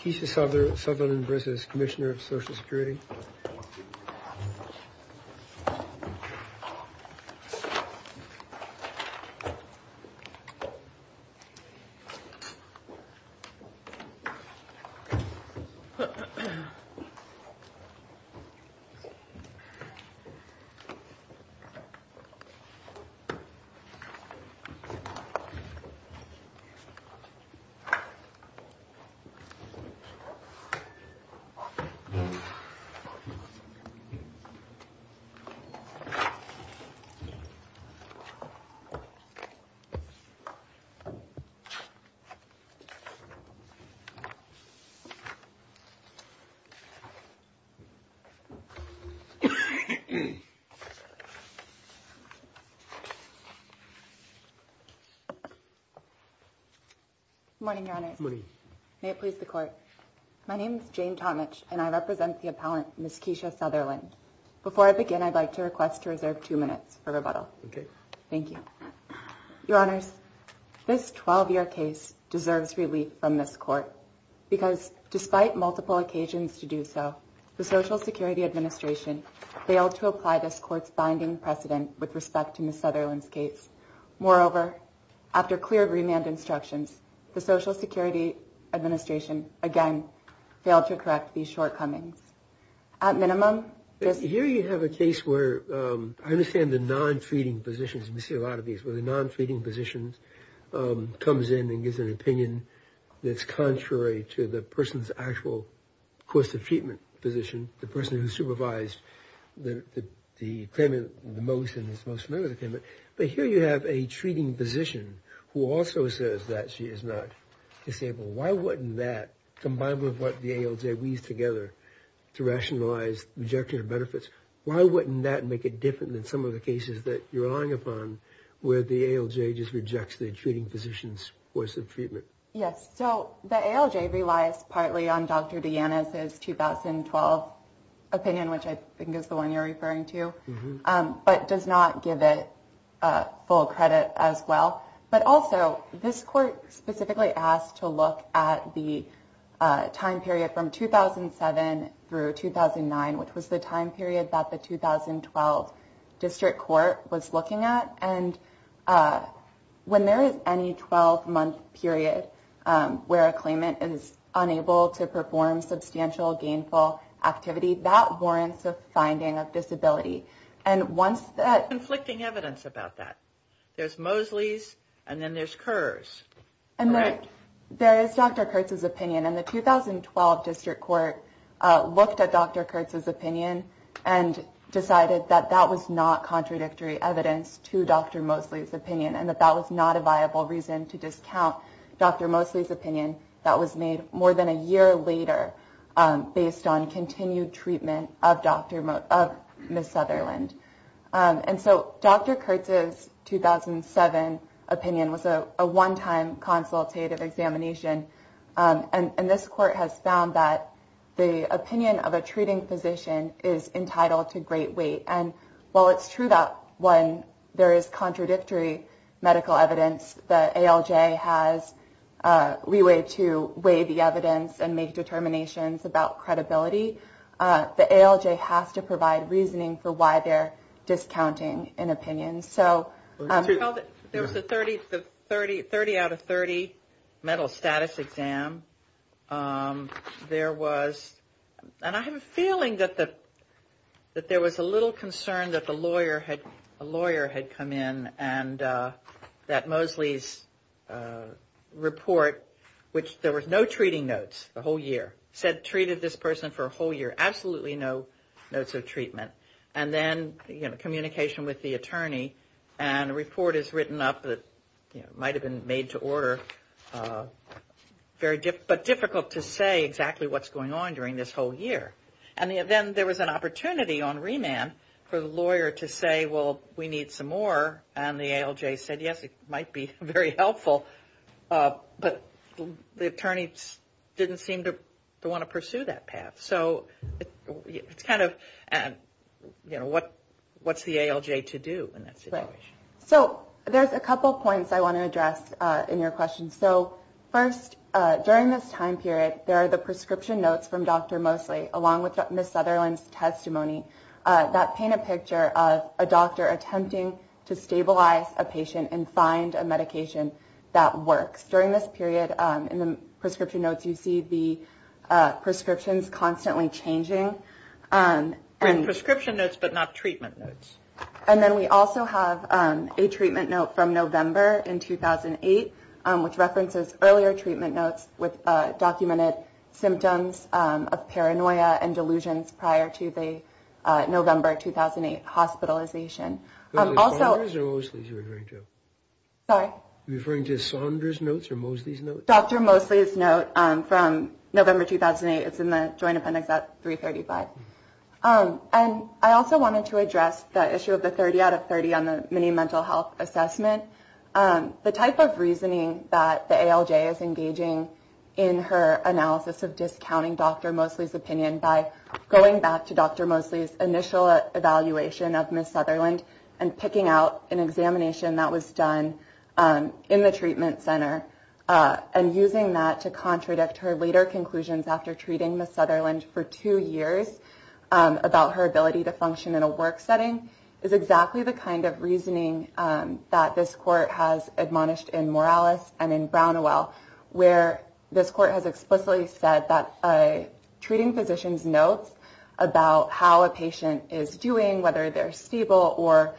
Keisha Sutherland v. Commissioner of Social Security Good morning, Your Honor. May it please the Court. My name is Jane Tomich and I represent the appellant, Ms. Keisha Sutherland. Before I begin, I'd like to request to reserve two minutes for rebuttal. Okay. Thank you. Your Honors, this 12-year case deserves relief from this Court because despite multiple occasions to do so, the Social Security Administration failed to apply this Court's binding precedent with respect to Ms. Sutherland's case. Moreover, after clear remand instructions, the Social Security Administration, again, failed to correct these shortcomings. At minimum, this... Here you have a case where I understand the non-treating positions, and we see a lot of these, where the non-treating position comes in and gives an opinion that's contrary to the person's actual course of treatment position, the person who supervised the claimant the most and is most familiar with the claimant. But here you have a treating physician who also says that she is not disabled. Why wouldn't that, combined with what the ALJ weaves together to rationalize rejection of benefits, why wouldn't that make it different than some of the cases that you're relying upon where the ALJ just rejects the treating physician's course of treatment? Yes. So the ALJ relies partly on Dr. DeAnna's 2012 opinion, which I think is the one you're referring to, but does not give it full credit as well. But also, this court specifically asked to look at the time period from 2007 through 2009, which was the time period that the 2012 district court was looking at. And when there is any 12-month period where a claimant is unable to perform substantial gainful activity, that warrants a finding of disability. And once that... There's conflicting evidence about that. There's Mosley's, and then there's Kerr's. Correct. There is Dr. Kurtz's opinion, and the 2012 district court looked at Dr. Kurtz's opinion and decided that that was not contradictory evidence to Dr. Mosley's opinion and that that was not a viable reason to discount Dr. Mosley's opinion. That was made more than a year later based on continued treatment of Ms. Sutherland. And so Dr. Kurtz's 2007 opinion was a one-time consultative examination, and this court has found that the opinion of a treating physician is entitled to great weight. And while it's true that when there is contradictory medical evidence, the ALJ has leeway to weigh the evidence and make determinations about credibility, the ALJ has to provide reasoning for why they're discounting an opinion. There was a 30 out of 30 mental status exam. There was... And I have a feeling that there was a little concern that a lawyer had come in and that Mosley's report, which there was no treating notes the whole year, said treated this person for a whole year, absolutely no notes of treatment. And then, you know, communication with the attorney, and a report is written up that might have been made to order, but difficult to say exactly what's going on during this whole year. And then there was an opportunity on remand for the lawyer to say, well, we need some more, and the ALJ said, yes, it might be very helpful. But the attorney didn't seem to want to pursue that path. So it's kind of, you know, what's the ALJ to do in that situation? So there's a couple points I want to address in your question. So first, during this time period, there are the prescription notes from Dr. Mosley, along with Ms. Sutherland's testimony, that paint a picture of a doctor attempting to stabilize a patient and find a medication that works. During this period, in the prescription notes, you see the prescriptions constantly changing. And prescription notes, but not treatment notes. And then we also have a treatment note from November in 2008, which references earlier treatment notes with documented symptoms of paranoia and delusions prior to the November 2008 hospitalization. Are you referring to Sondra's notes or Mosley's notes? Dr. Mosley's note from November 2008. It's in the Joint Appendix at 335. And I also wanted to address the issue of the 30 out of 30 on the mini mental health assessment. The type of reasoning that the ALJ is engaging in her analysis of discounting Dr. Mosley's opinion by going back to Dr. Mosley's initial evaluation of Ms. Sutherland and picking out an examination that was done in the treatment center and using that to contradict her later conclusions after treating Ms. Sutherland for two years about her ability to function in a work setting is exactly the kind of reasoning that this court has admonished in Morales and in Brown & Well, where this court has explicitly said that a treating physician's notes about how a patient is doing, whether they're stable or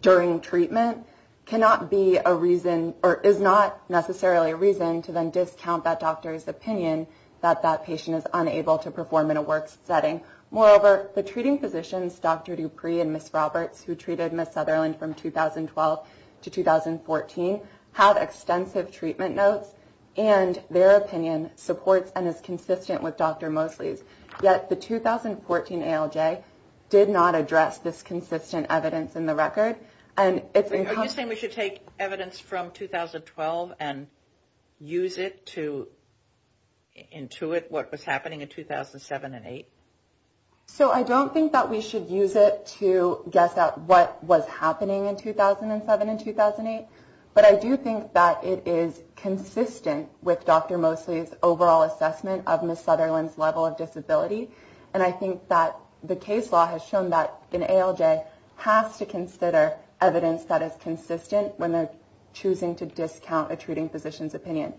during treatment, cannot be a reason or is not necessarily a reason to then discount that doctor's opinion that that patient is unable to perform in a work setting. Moreover, the treating physicians, Dr. Dupree and Ms. Roberts, who treated Ms. Sutherland from 2012 to 2014, have extensive treatment notes and their opinion supports and is consistent with Dr. Mosley's. Yet the 2014 ALJ did not address this consistent evidence in the record. Are you saying we should take evidence from 2012 and use it to intuit what was happening in 2007 and 2008? So I don't think that we should use it to guess at what was happening in 2007 and 2008, but I do think that it is consistent with Dr. Mosley's overall assessment of Ms. Sutherland's level of disability. And I think that the case law has shown that an ALJ has to consider evidence that is consistent when they're choosing to discount a treating physician's opinion.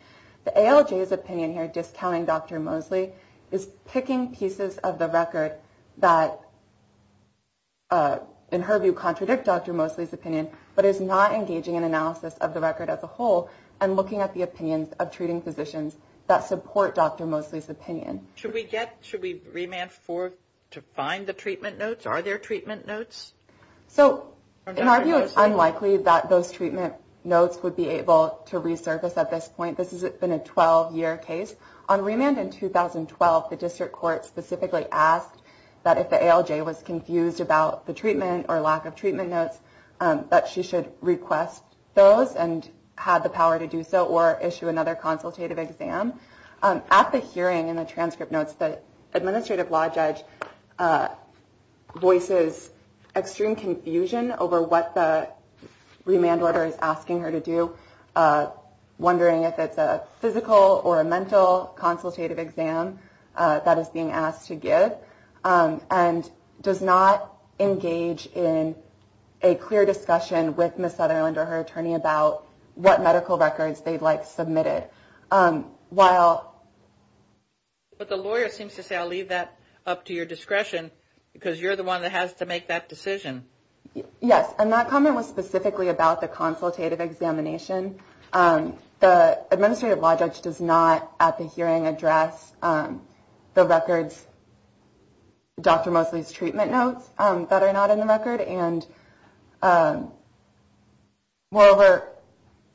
The ALJ's opinion here, discounting Dr. Mosley, is picking pieces of the record that, in her view, contradict Dr. Mosley's opinion, but is not engaging in analysis of the record as a whole and looking at the opinions of treating physicians that support Dr. Mosley's opinion. Should we remand to find the treatment notes? Are there treatment notes? So in our view, it's unlikely that those treatment notes would be able to resurface at this point. This has been a 12-year case. On remand in 2012, the district court specifically asked that if the ALJ was confused about the treatment or lack of treatment notes, that she should request those and have the power to do so or issue another consultative exam. At the hearing, in the transcript notes, the administrative law judge voices extreme confusion over what the remand order is asking her to do, wondering if it's a physical or a mental consultative exam that is being asked to give, and does not engage in a clear discussion with Ms. Sutherland or her attorney about what medical records they'd like submitted. But the lawyer seems to say, I'll leave that up to your discretion because you're the one that has to make that decision. Yes, and that comment was specifically about the consultative examination. The administrative law judge does not, at the hearing, address the records, Dr. Mosley's treatment notes that are not in the record. And moreover,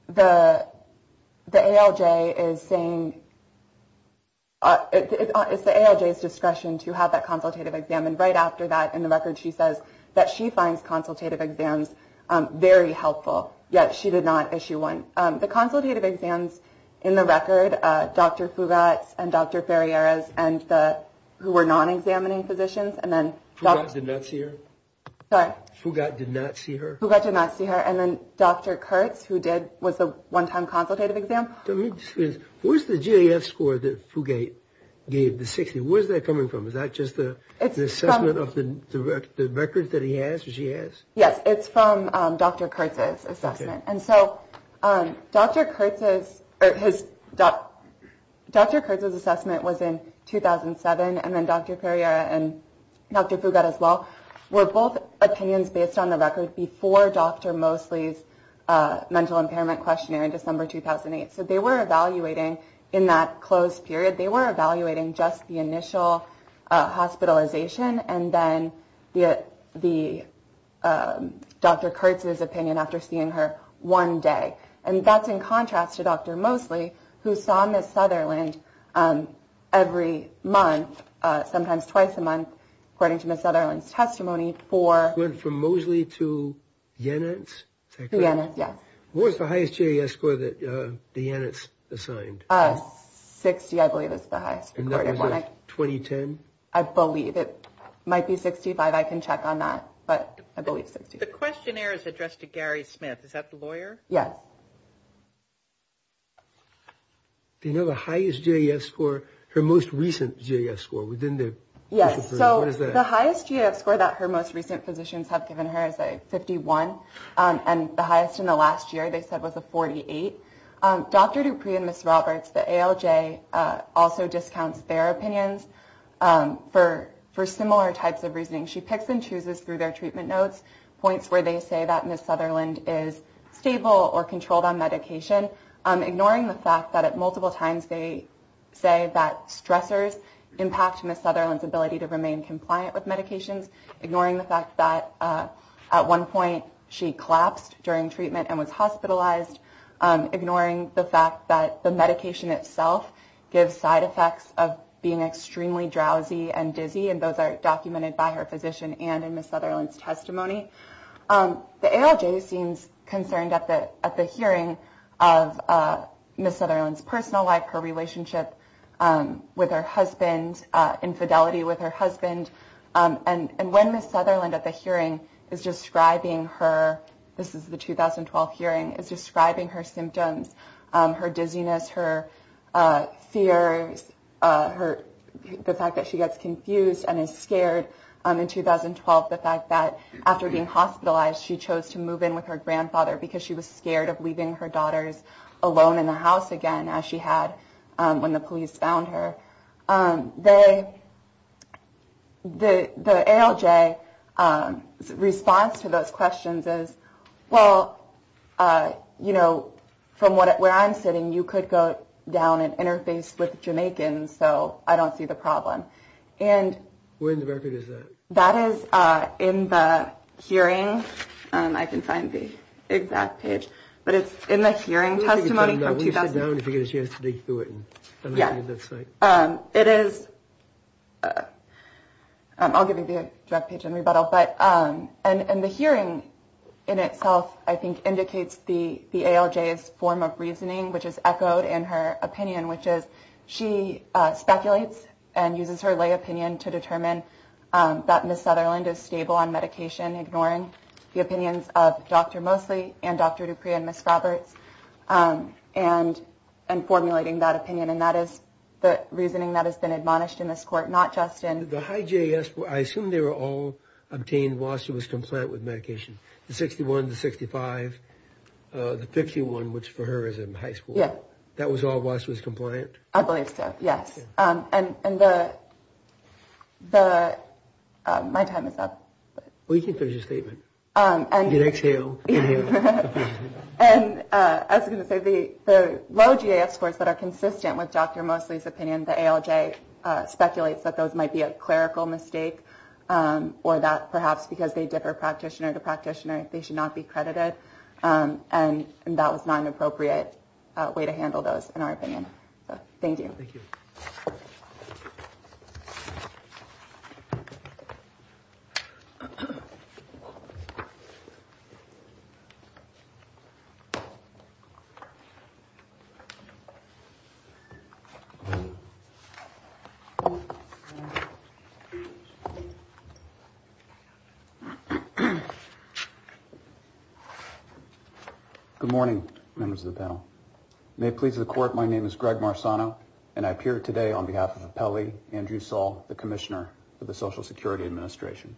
the ALJ is saying it's the ALJ's discretion to have that consultative examined. Right after that, in the record, she says that she finds consultative exams very helpful, yet she did not issue one. The consultative exams in the record, Dr. Fugatz and Dr. Ferreira's, who were non-examining physicians. Fugatz did not see her? Sorry? Fugatz did not see her? Fugatz did not see her. And then Dr. Kurtz, who did, was the one-time consultative exam. Where's the GAF score that Fugatz gave, the 60? Where's that coming from? Is that just the assessment of the records that he has or she has? Yes, it's from Dr. Kurtz's assessment. And so Dr. Kurtz's assessment was in 2007, and then Dr. Ferreira and Dr. Fugatz as well, were both opinions based on the record before Dr. Mosley's mental impairment questionnaire in December 2008. So they were evaluating, in that closed period, they were evaluating just the initial hospitalization, and then Dr. Kurtz's opinion after seeing her one day. And that's in contrast to Dr. Mosley, who saw Ms. Sutherland every month, sometimes twice a month, according to Ms. Sutherland's testimony. It went from Mosley to Yanitz? Yanitz, yes. What was the highest GAF score that the Yanitz assigned? 60, I believe, is the highest. And that was in 2010? I believe. It might be 65. I can check on that. But I believe 65. The questionnaire is addressed to Gary Smith. Is that the lawyer? Yes. Do you know the highest GAF score, her most recent GAF score within the hospital? Yes. So the highest GAF score that her most recent physicians have given her is a 51, and the highest in the last year, they said, was a 48. Dr. Dupree and Ms. Roberts, the ALJ, also discounts their opinions for similar types of reasoning. She picks and chooses through their treatment notes points where they say that Ms. Sutherland is stable or controlled on medication, ignoring the fact that at multiple times they say that stressors impact Ms. Sutherland's ability to remain compliant with medications, ignoring the fact that at one point she collapsed during treatment and was hospitalized, ignoring the fact that the medication itself gives side effects of being extremely drowsy and dizzy, and those are documented by her physician and in Ms. Sutherland's testimony. The ALJ seems concerned at the hearing of Ms. Sutherland's personal life, her relationship with her husband, infidelity with her husband. And when Ms. Sutherland at the hearing is describing her, this is the 2012 hearing, is describing her symptoms, her dizziness, her fears, the fact that she gets confused and is scared in 2012, the fact that after being hospitalized she chose to move in with her grandfather because she was scared of leaving her daughters alone in the house again, as she had when the police found her. The ALJ's response to those questions is, well, you know, from where I'm sitting, you could go down and interface with Jamaicans, so I don't see the problem. And that is in the hearing. I can find the exact page, but it's in the hearing testimony. It is. I'll give you the page in rebuttal. But and the hearing in itself, I think, indicates the ALJ's form of reasoning, which is echoed in her opinion, which is she speculates and uses her lay opinion to determine that Ms. Sutherland is stable on medication, ignoring the opinions of Dr. Mosley and Dr. Dupree and Ms. Roberts. And formulating that opinion. And that is the reasoning that has been admonished in this court, not just in... The high JAS, I assume they were all obtained while she was compliant with medication. The 61, the 65, the 51, which for her is in high school. Yeah. That was all while she was compliant? I believe so, yes. And the... My time is up. Well, you can finish your statement. You can exhale. And as I was going to say, the low JAS scores that are consistent with Dr. Mosley's opinion, the ALJ speculates that those might be a clerical mistake or that perhaps because they differ practitioner to practitioner, they should not be credited. And that was not an appropriate way to handle those, in our opinion. Thank you. Thank you. Thank you. Good morning, members of the panel. May it please the court, my name is Greg Marzano, and I appear today on behalf of Apelli Andrew Saul, the commissioner for the Social Security Administration.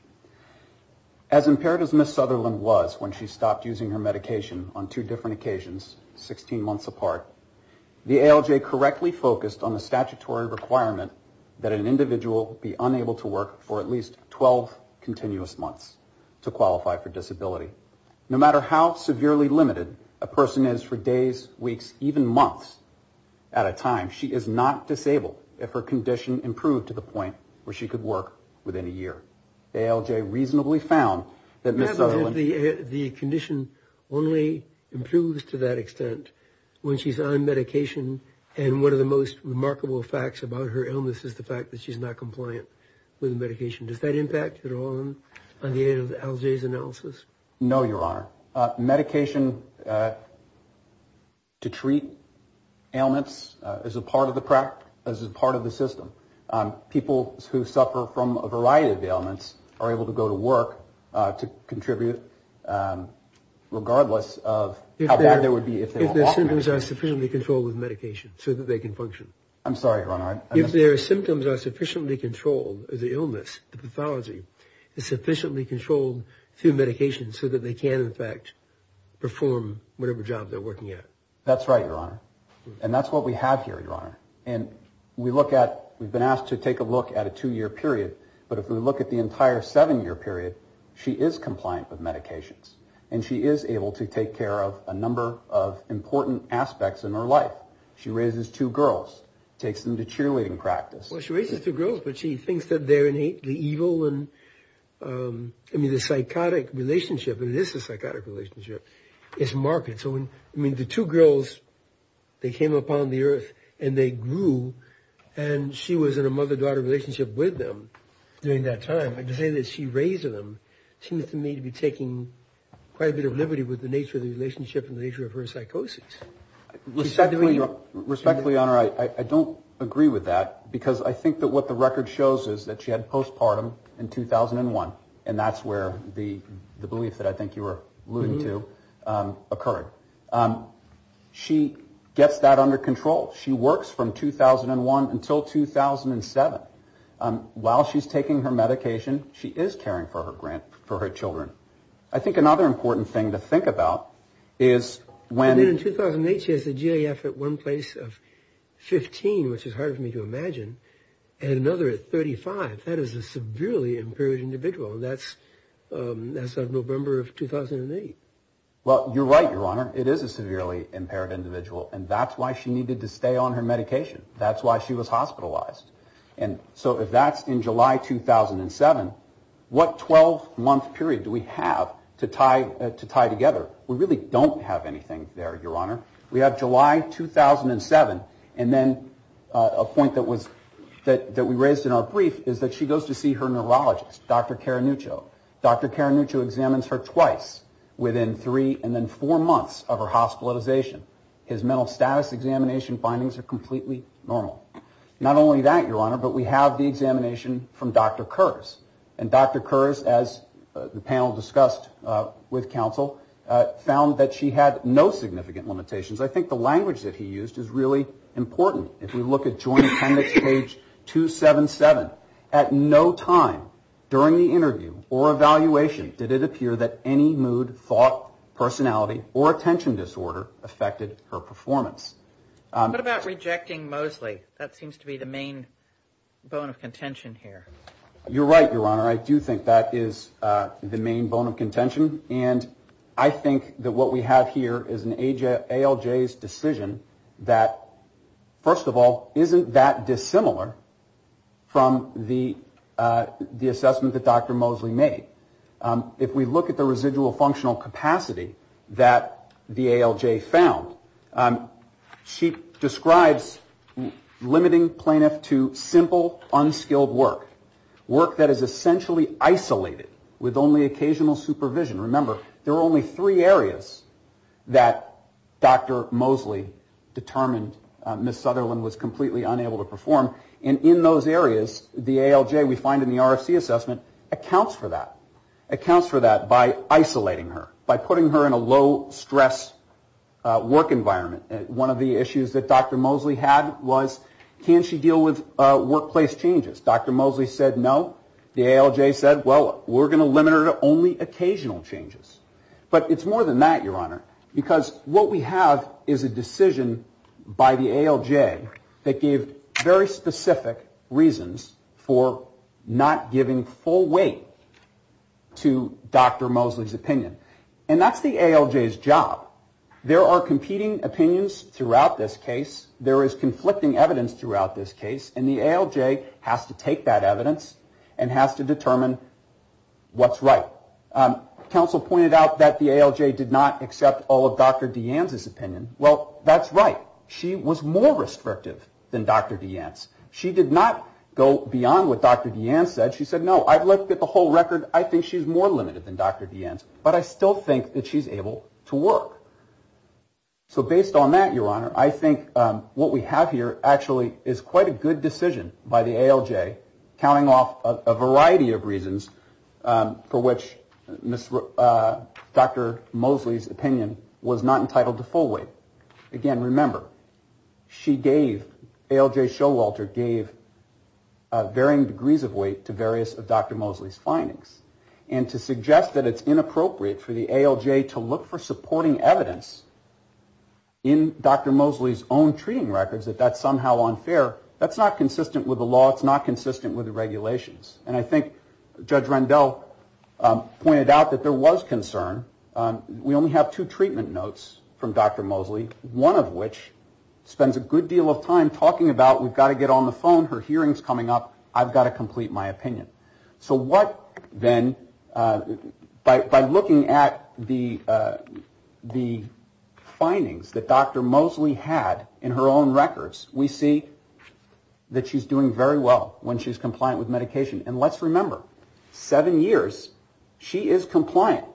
As impaired as Ms. Sutherland was when she stopped using her medication on two different occasions, 16 months apart, the ALJ correctly focused on the statutory requirement that an individual be unable to work for at least 12 continuous months to qualify for disability. No matter how severely limited a person is for days, weeks, even months at a time, she is not disabled if her condition improved to the point where she could work within a year. The ALJ reasonably found that Ms. Sutherland... The condition only improves to that extent when she's on medication, and one of the most remarkable facts about her illness is the fact that she's not compliant with the medication. Does that impact at all on the end of the ALJ's analysis? No, Your Honor. Medication to treat ailments is a part of the system. People who suffer from a variety of ailments are able to go to work to contribute regardless of how bad they would be if they were off medication. If their symptoms are sufficiently controlled with medication so that they can function. I'm sorry, Your Honor. If their symptoms are sufficiently controlled as an illness, the pathology is sufficiently controlled through medication so that they can, in fact, perform whatever job they're working at. We look at... We've been asked to take a look at a two-year period, but if we look at the entire seven-year period, she is compliant with medications, and she is able to take care of a number of important aspects in her life. She raises two girls, takes them to cheerleading practice. Well, she raises two girls, but she thinks that they're the evil and... I mean, the psychotic relationship, and this is a psychotic relationship, is marked. So, I mean, the two girls, they came upon the earth, and they grew, and she was in a mother-daughter relationship with them during that time. And to say that she raised them seems to me to be taking quite a bit of liberty with the nature of the relationship and the nature of her psychosis. Respectfully, Your Honor, I don't agree with that, because I think that what the record shows is that she had postpartum in 2001, and that's where the belief that I think you were alluding to occurred. She gets that under control. She works from 2001 until 2007. While she's taking her medication, she is caring for her children. I think another important thing to think about is when... In 2008, she has a GAF at one place of 15, which is hard for me to imagine, and another at 35. That is a severely impaired individual, and that's on November of 2008. Well, you're right, Your Honor. It is a severely impaired individual, and that's why she needed to stay on her medication. That's why she was hospitalized. And so if that's in July 2007, what 12-month period do we have to tie together? We really don't have anything there, Your Honor. We have July 2007, and then a point that we raised in our brief is that she goes to see her neurologist, Dr. Caranuccio. Dr. Caranuccio examines her twice within three and then four months of her hospitalization. His mental status examination findings are completely normal. Not only that, Your Honor, but we have the examination from Dr. Kurz, and Dr. Kurz, as the panel discussed with counsel, found that she had no significant limitations. I think the language that he used is really important. If we look at Joint Appendix page 277, at no time during the interview or evaluation did it appear that any mood, thought, personality, or attention disorder affected her performance. What about rejecting Mosley? That seems to be the main bone of contention here. You're right, Your Honor. I do think that is the main bone of contention, and I think that what we have here is an ALJ's decision that, first of all, isn't that dissimilar from the assessment that Dr. Mosley made. If we look at the residual functional capacity that the ALJ found, she describes limiting plaintiff to simple, unskilled work, work that is essentially isolated with only occasional supervision. Remember, there are only three areas that Dr. Mosley determined Ms. Sutherland was completely unable to perform, and in those areas the ALJ we find in the RFC assessment accounts for that, accounts for that by isolating her, by putting her in a low-stress work environment. One of the issues that Dr. Mosley had was can she deal with workplace changes? Dr. Mosley said no. The ALJ said, well, we're going to limit her to only occasional changes. But it's more than that, Your Honor, because what we have is a decision by the ALJ that gave very specific reasons for not giving full weight to Dr. Mosley's opinion, and that's the ALJ's job. There are competing opinions throughout this case. There is conflicting evidence throughout this case, and the ALJ has to take that evidence and has to determine what's right. Counsel pointed out that the ALJ did not accept all of Dr. DeAnne's opinion. Well, that's right. She was more restrictive than Dr. DeAnne's. She did not go beyond what Dr. DeAnne said. She said, no, I've looked at the whole record. I think she's more limited than Dr. DeAnne's, but I still think that she's able to work. So based on that, Your Honor, I think what we have here actually is quite a good decision by the ALJ, counting off a variety of reasons for which Dr. Mosley's opinion was not entitled to full weight. Again, remember, she gave, ALJ Showalter gave varying degrees of weight to various of Dr. Mosley's findings, and to suggest that it's inappropriate for the ALJ to look for supporting evidence in Dr. Mosley's own treating records, that that's somehow unfair, that's not consistent with the law. It's not consistent with the regulations. And I think Judge Rendell pointed out that there was concern. We only have two treatment notes from Dr. Mosley, one of which spends a good deal of time talking about we've got to get on the phone, her hearing's coming up, I've got to complete my opinion. So what then, by looking at the findings that Dr. Mosley had in her own records, we see that she's doing very well when she's compliant with medication. And let's remember, seven years, she is compliant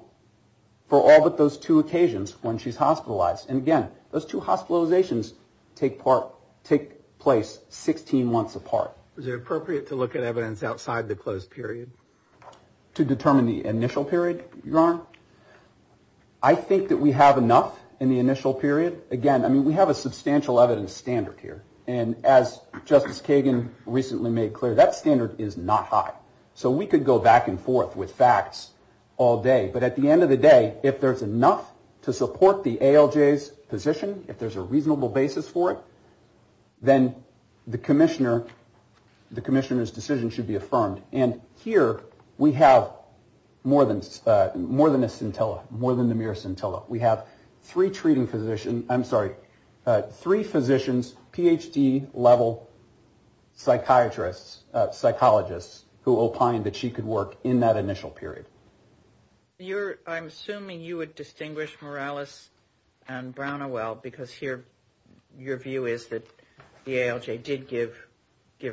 for all but those two occasions when she's hospitalized. And again, those two hospitalizations take place 16 months apart. Is it appropriate to look at evidence outside the closed period? To determine the initial period, Your Honor? I think that we have enough in the initial period. Again, I mean, we have a substantial evidence standard here. And as Justice Kagan recently made clear, that standard is not high. So we could go back and forth with facts all day. But at the end of the day, if there's enough to support the ALJ's position, if there's a reasonable basis for it, then the commissioner's decision should be affirmed. And here we have more than a scintilla, more than a mere scintilla. We have three treating physicians, I'm sorry, three physicians, Ph.D. level psychiatrists, psychologists who opined that she could work in that initial period. You're, I'm assuming you would distinguish Morales and Brown and Well, because here your view is that the ALJ did give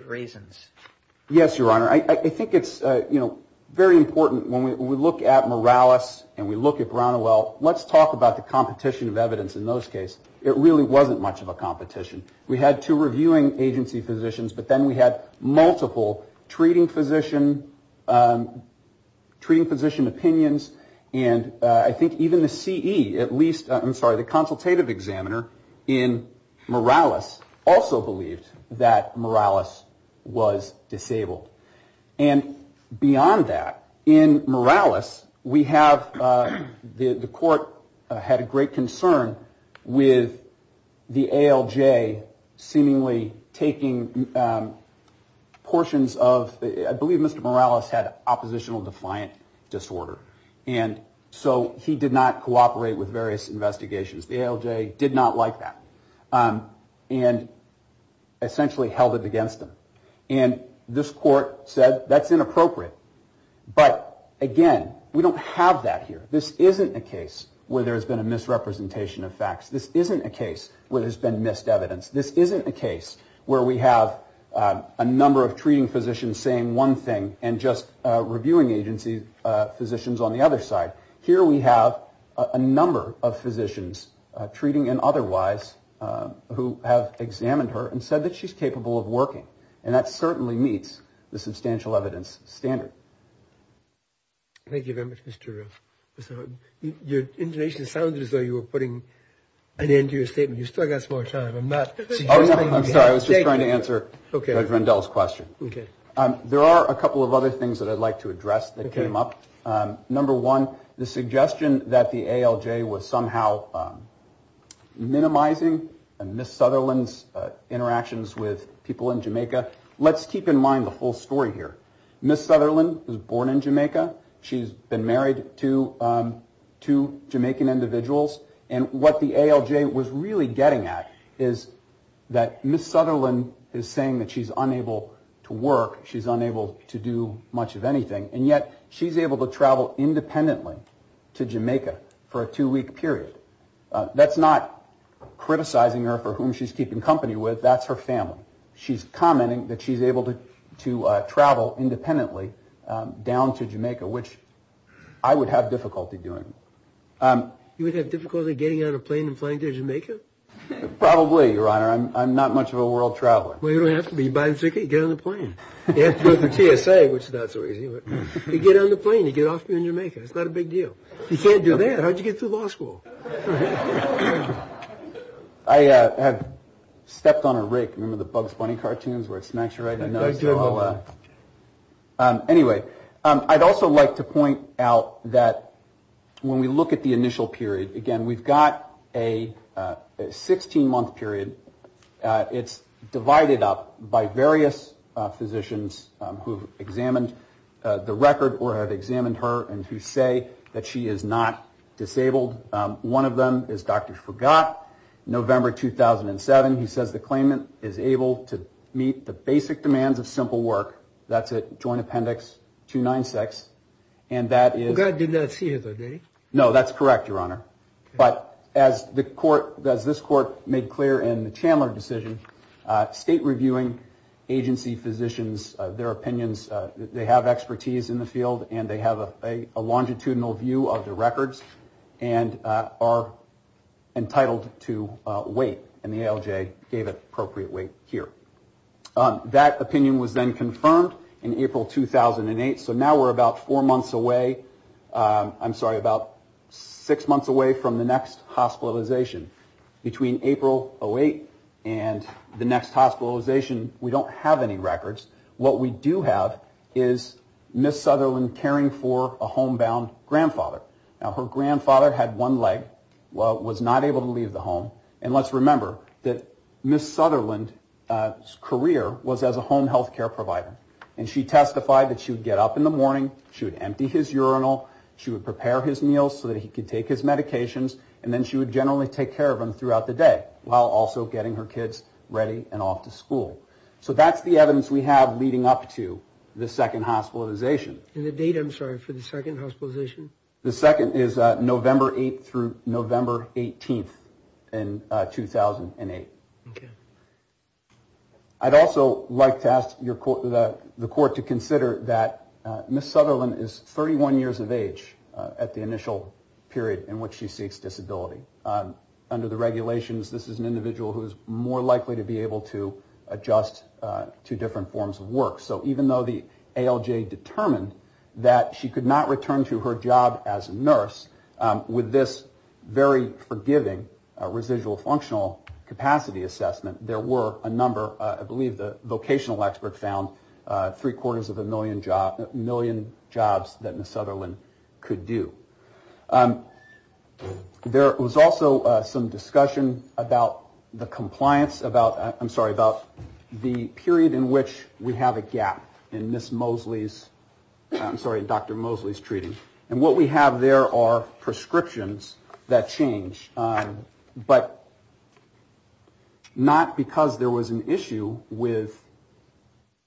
reasons. Yes, Your Honor. I think it's, you know, very important when we look at Morales and we look at Brown and Well, let's talk about the competition of evidence in those cases. It really wasn't much of a competition. We had two reviewing agency physicians, but then we had multiple treating physician, treating physician opinions, and I think even the CE, at least, I'm sorry, the consultative examiner in Morales also believed that Morales was disabled. And beyond that, in Morales, we have, the court had a great concern with the ALJ seemingly taking portions of, I believe Mr. Morales had oppositional defiant disorder, and so he did not cooperate with various investigations. The ALJ did not like that and essentially held it against him. And this court said that's inappropriate. But, again, we don't have that here. This isn't a case where there's been a misrepresentation of facts. This isn't a case where there's been missed evidence. This isn't a case where we have a number of treating physicians saying one thing and just reviewing agency physicians on the other side. Here we have a number of physicians, treating and otherwise, who have examined her and said that she's capable of working, and that certainly meets the substantial evidence standard. Thank you very much, Mr. Roof. Your intonation sounded as though you were putting an end to your statement. You've still got some more time. I'm not suggesting you have to take it. I'm sorry, I was just trying to answer Judge Rendell's question. Okay. There are a couple of other things that I'd like to address that came up. Number one, the suggestion that the ALJ was somehow minimizing Ms. Sutherland's interactions with people in Jamaica. Let's keep in mind the whole story here. Ms. Sutherland was born in Jamaica. She's been married to two Jamaican individuals. And what the ALJ was really getting at is that Ms. Sutherland is saying that she's unable to work. She's unable to do much of anything. And yet she's able to travel independently to Jamaica for a two-week period. That's not criticizing her for whom she's keeping company with. That's her family. She's commenting that she's able to travel independently down to Jamaica, which I would have difficulty doing. You would have difficulty getting on a plane and flying to Jamaica? Probably, Your Honor. I'm not much of a world traveler. Well, you don't have to be. You buy the ticket, you get on the plane. You have to go through TSA, which is not so easy. You get on the plane, you get off here in Jamaica. It's not a big deal. You can't do that. How did you get through law school? I have stepped on a rake. Remember the Bugs Bunny cartoons where it smacks you right in the nose? Anyway, I'd also like to point out that when we look at the initial period, again, we've got a 16-month period. It's divided up by various physicians who have examined the record or have examined her and who say that she is not disabled. One of them is Dr. Fagott, November 2007. He says the claimant is able to meet the basic demands of simple work. That's at Joint Appendix 296. Fagott did not see it, did he? No, that's correct, Your Honor. But as this court made clear in the Chandler decision, state reviewing agency physicians, their opinions, they have expertise in the field and they have a longitudinal view of the records and are entitled to wait. And the ALJ gave appropriate wait here. That opinion was then confirmed in April 2008. So now we're about four months away. I'm sorry, about six months away from the next hospitalization. Between April 2008 and the next hospitalization, we don't have any records. What we do have is Ms. Sutherland caring for a homebound grandfather. Now, her grandfather had one leg, was not able to leave the home, and let's remember that Ms. Sutherland's career was as a home health care provider. And she testified that she would get up in the morning, she would empty his urinal, she would prepare his meals so that he could take his medications, and then she would generally take care of him throughout the day, while also getting her kids ready and off to school. So that's the evidence we have leading up to the second hospitalization. And the date, I'm sorry, for the second hospitalization? The second is November 8th through November 18th in 2008. Okay. I'd also like to ask the court to consider that Ms. Sutherland is 31 years of age at the initial period in which she seeks disability. Under the regulations, this is an individual who is more likely to be able to adjust to different forms of work. So even though the ALJ determined that she could not return to her job as a nurse, with this very forgiving residual functional capacity assessment, there were a number, I believe the vocational expert found, three-quarters of a million jobs that Ms. Sutherland could do. There was also some discussion about the compliance, I'm sorry, about the period in which we have a gap in Ms. Mosley's, I'm sorry, Dr. Mosley's treating. And what we have there are prescriptions that change, but not because there was an issue with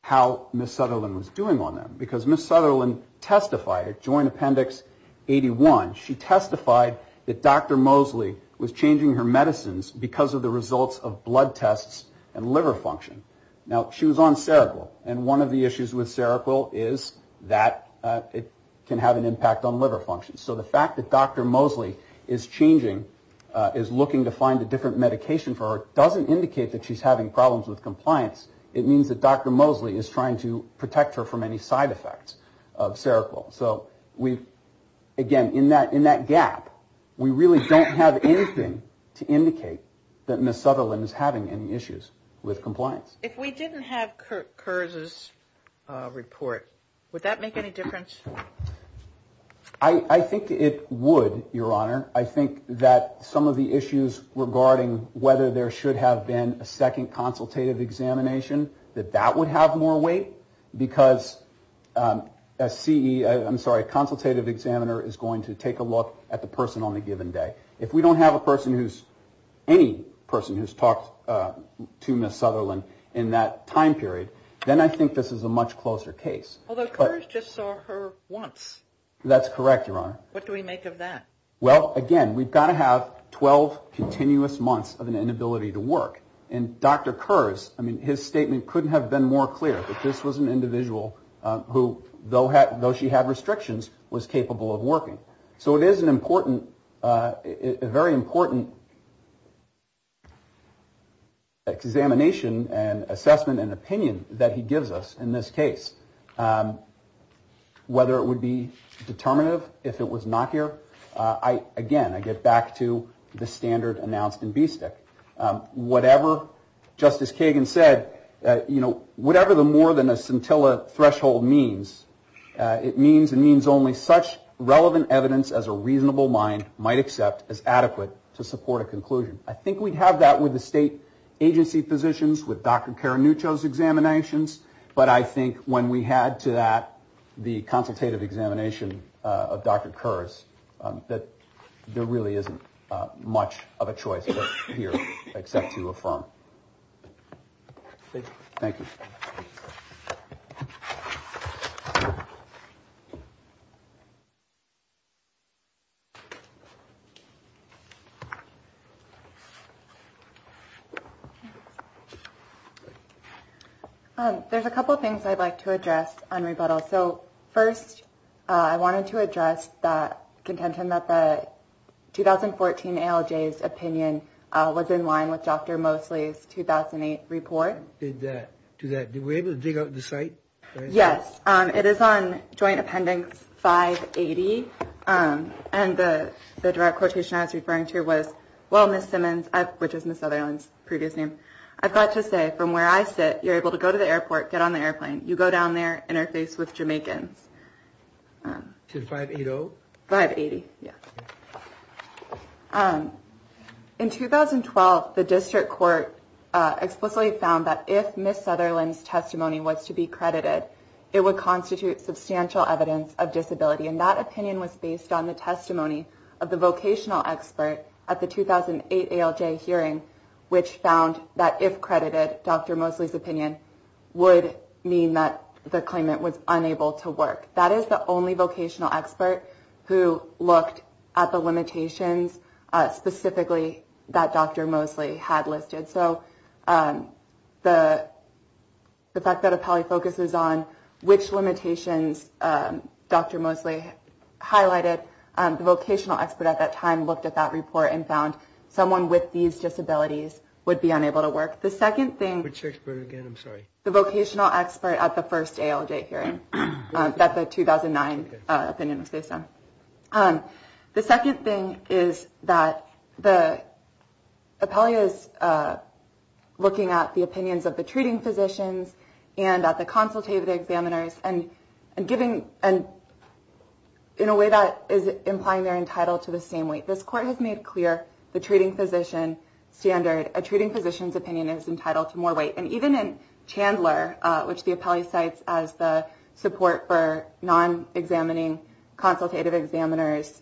how Ms. Sutherland was doing on that. Because Ms. Sutherland testified at Joint Appendix 81, she testified that Dr. Mosley was changing her medicines because of the results of blood tests and liver function. Now, she was on Seroquel, and one of the issues with Seroquel is that it can have an impact on liver function. So the fact that Dr. Mosley is changing, is looking to find a different medication for her, doesn't indicate that she's having problems with compliance. It means that Dr. Mosley is trying to protect her from any side effects of Seroquel. So again, in that gap, we really don't have anything to indicate that Ms. Sutherland is having any issues with compliance. If we didn't have Kurt Kurz's report, would that make any difference? I think it would, Your Honor. I think that some of the issues regarding whether there should have been a second consultative examination, that that would have more weight, because a CE, I'm sorry, a consultative examiner is going to take a look at the person on a given day. If we don't have a person who's, any person who's talked to Ms. Sutherland in that time period, then I think this is a much closer case. Although Kurz just saw her once. That's correct, Your Honor. What do we make of that? Well, again, we've got to have 12 continuous months of an inability to work. And Dr. Kurz, I mean, his statement couldn't have been more clear, that this was an individual who, though she had restrictions, was capable of working. So it is an important, a very important examination and assessment and opinion that he gives us in this case. Whether it would be determinative if it was not here, I, again, I get back to the standard announced in BSTC. Whatever Justice Kagan said, you know, whatever the more than a scintilla threshold means, it means and means only such relevant evidence as a reasonable mind might accept as adequate to support a conclusion. I think we'd have that with the state agency positions, with Dr. Caranuccio's examinations. But I think when we had to that, the consultative examination of Dr. Kurz, that there really isn't much of a choice here except to affirm. Thank you. Thank you. There's a couple of things I'd like to address on rebuttal. So first, I wanted to address the contention that the 2014 ALJ's opinion was in line with Dr. Mosley's 2008 report. Did that do that? Did we able to dig up the site? Yes. It is on Joint Appendix 580. And the direct quotation I was referring to was, well, Miss Simmons, which is Miss Sutherland's previous name. I've got to say, from where I sit, you're able to go to the airport, get on the airplane. You go down there, interface with Jamaicans. To 580? 580. Yeah. In 2012, the district court explicitly found that if Miss Sutherland's testimony was to be credited, it would constitute substantial evidence of disability. And that opinion was based on the testimony of the vocational expert at the 2008 ALJ hearing, which found that if credited, Dr. Mosley's opinion would mean that the claimant was unable to work. That is the only vocational expert who looked at the limitations specifically that Dr. Mosley had listed. So the fact that it probably focuses on which limitations Dr. Mosley highlighted, the vocational expert at that time looked at that report and found someone with these disabilities would be unable to work. Which expert again? I'm sorry. The vocational expert at the first ALJ hearing, that the 2009 opinion was based on. The second thing is that the appellee is looking at the opinions of the treating physicians and at the consultative examiners and in a way that is implying they're entitled to the same weight. This court has made clear the treating physician standard. A treating physician's opinion is entitled to more weight. And even in Chandler, which the appellee cites as the support for non-examining consultative examiners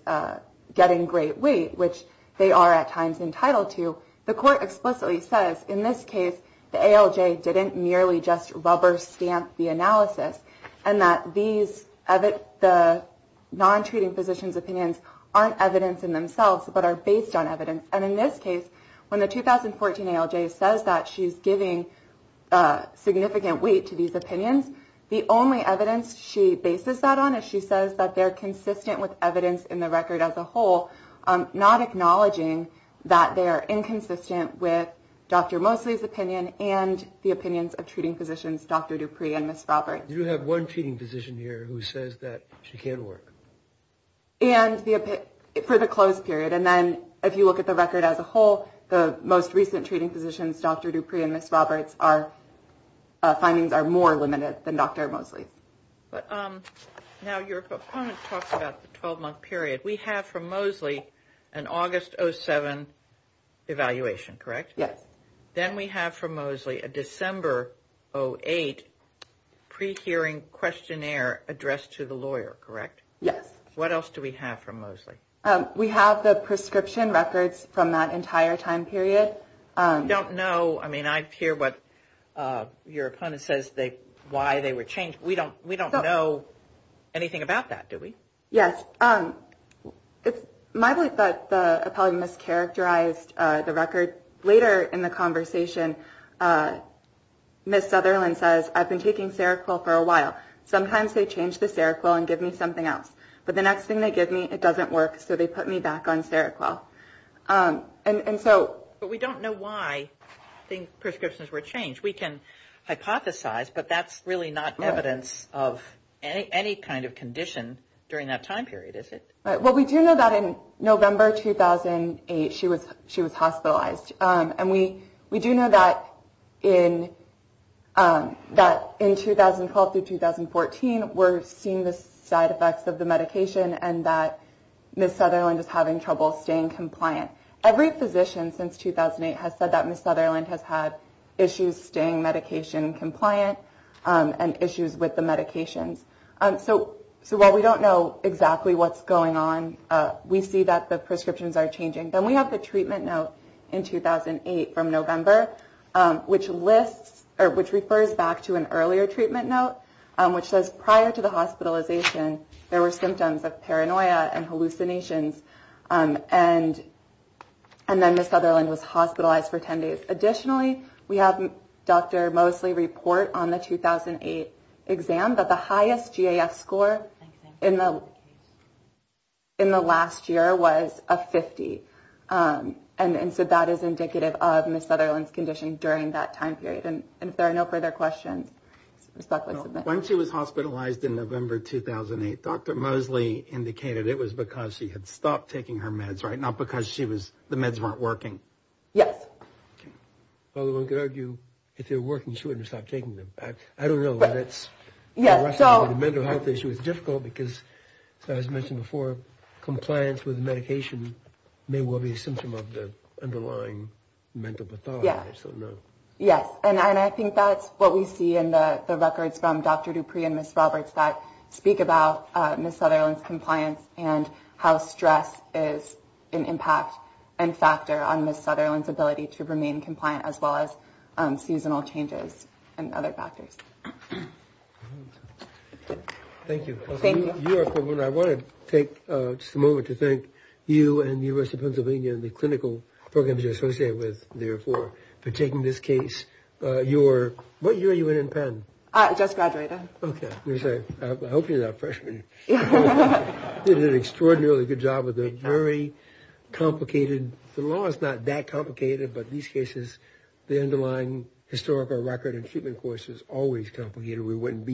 getting great weight, which they are at times entitled to. The court explicitly says in this case, the ALJ didn't merely just rubber stamp the analysis and that the non-treating physician's opinions aren't evidence in themselves but are based on evidence. And in this case, when the 2014 ALJ says that she's giving significant weight to these opinions, the only evidence she bases that on is she says that they're consistent with evidence in the record as a whole, not acknowledging that they are inconsistent with Dr. Mosley's opinion and the opinions of treating physicians Dr. Dupree and Ms. Robert. You do have one treating physician here who says that she can't work. And for the closed period. And then if you look at the record as a whole, the most recent treating physicians, Dr. Dupree and Ms. Roberts, our findings are more limited than Dr. Mosley. But now your opponent talks about the 12-month period. We have from Mosley an August 07 evaluation, correct? Yes. Then we have from Mosley a December 08 pre-hearing questionnaire addressed to the lawyer, correct? Yes. What else do we have from Mosley? We have the prescription records from that entire time period. I don't know. I mean, I hear what your opponent says, why they were changed. We don't know anything about that, do we? Yes. It's my belief that the appellate mischaracterized the record. Later in the conversation, Ms. Sutherland says, I've been taking Seroquel for a while. Sometimes they change the Seroquel and give me something else. But the next thing they give me, it doesn't work. So they put me back on Seroquel. But we don't know why the prescriptions were changed. Which we can hypothesize, but that's really not evidence of any kind of condition during that time period, is it? Well, we do know that in November 2008, she was hospitalized. And we do know that in 2012 through 2014, we're seeing the side effects of the medication and that Ms. Sutherland is having trouble staying compliant. Every physician since 2008 has said that Ms. Sutherland has had issues staying medication compliant and issues with the medications. So while we don't know exactly what's going on, we see that the prescriptions are changing. Then we have the treatment note in 2008 from November, which refers back to an earlier treatment note, which says prior to the hospitalization, there were symptoms of paranoia and hallucinations. And then Ms. Sutherland was hospitalized for 10 days. Additionally, we have Dr. Mosley report on the 2008 exam that the highest GAF score in the last year was a 50. And so that is indicative of Ms. Sutherland's condition during that time period. And if there are no further questions, Ms. Buckley, submit. When she was hospitalized in November 2008, Dr. Mosley indicated it was because she had stopped taking her meds, right? Not because the meds weren't working. Yes. Well, one could argue if they were working, she wouldn't have stopped taking them. I don't know. The rest of the mental health issue is difficult because, as I mentioned before, compliance with medication may well be a symptom of the underlying mental pathology. Yes. And I think that's what we see in the records from Dr. Dupree and Ms. Roberts that speak about Ms. Sutherland's compliance and how stress is an impact and factor on Ms. Sutherland's ability to remain compliant, as well as seasonal changes and other factors. Thank you. I want to take just a moment to thank you and the University of Pennsylvania and the clinical programs you're associated with, therefore, for taking this case. What year are you in in Penn? I just graduated. Okay. I hope you're not a freshman. You did an extraordinarily good job with a very complicated – the law is not that complicated, but in these cases the underlying historical record and treatment course is always complicated. We wouldn't be here without you.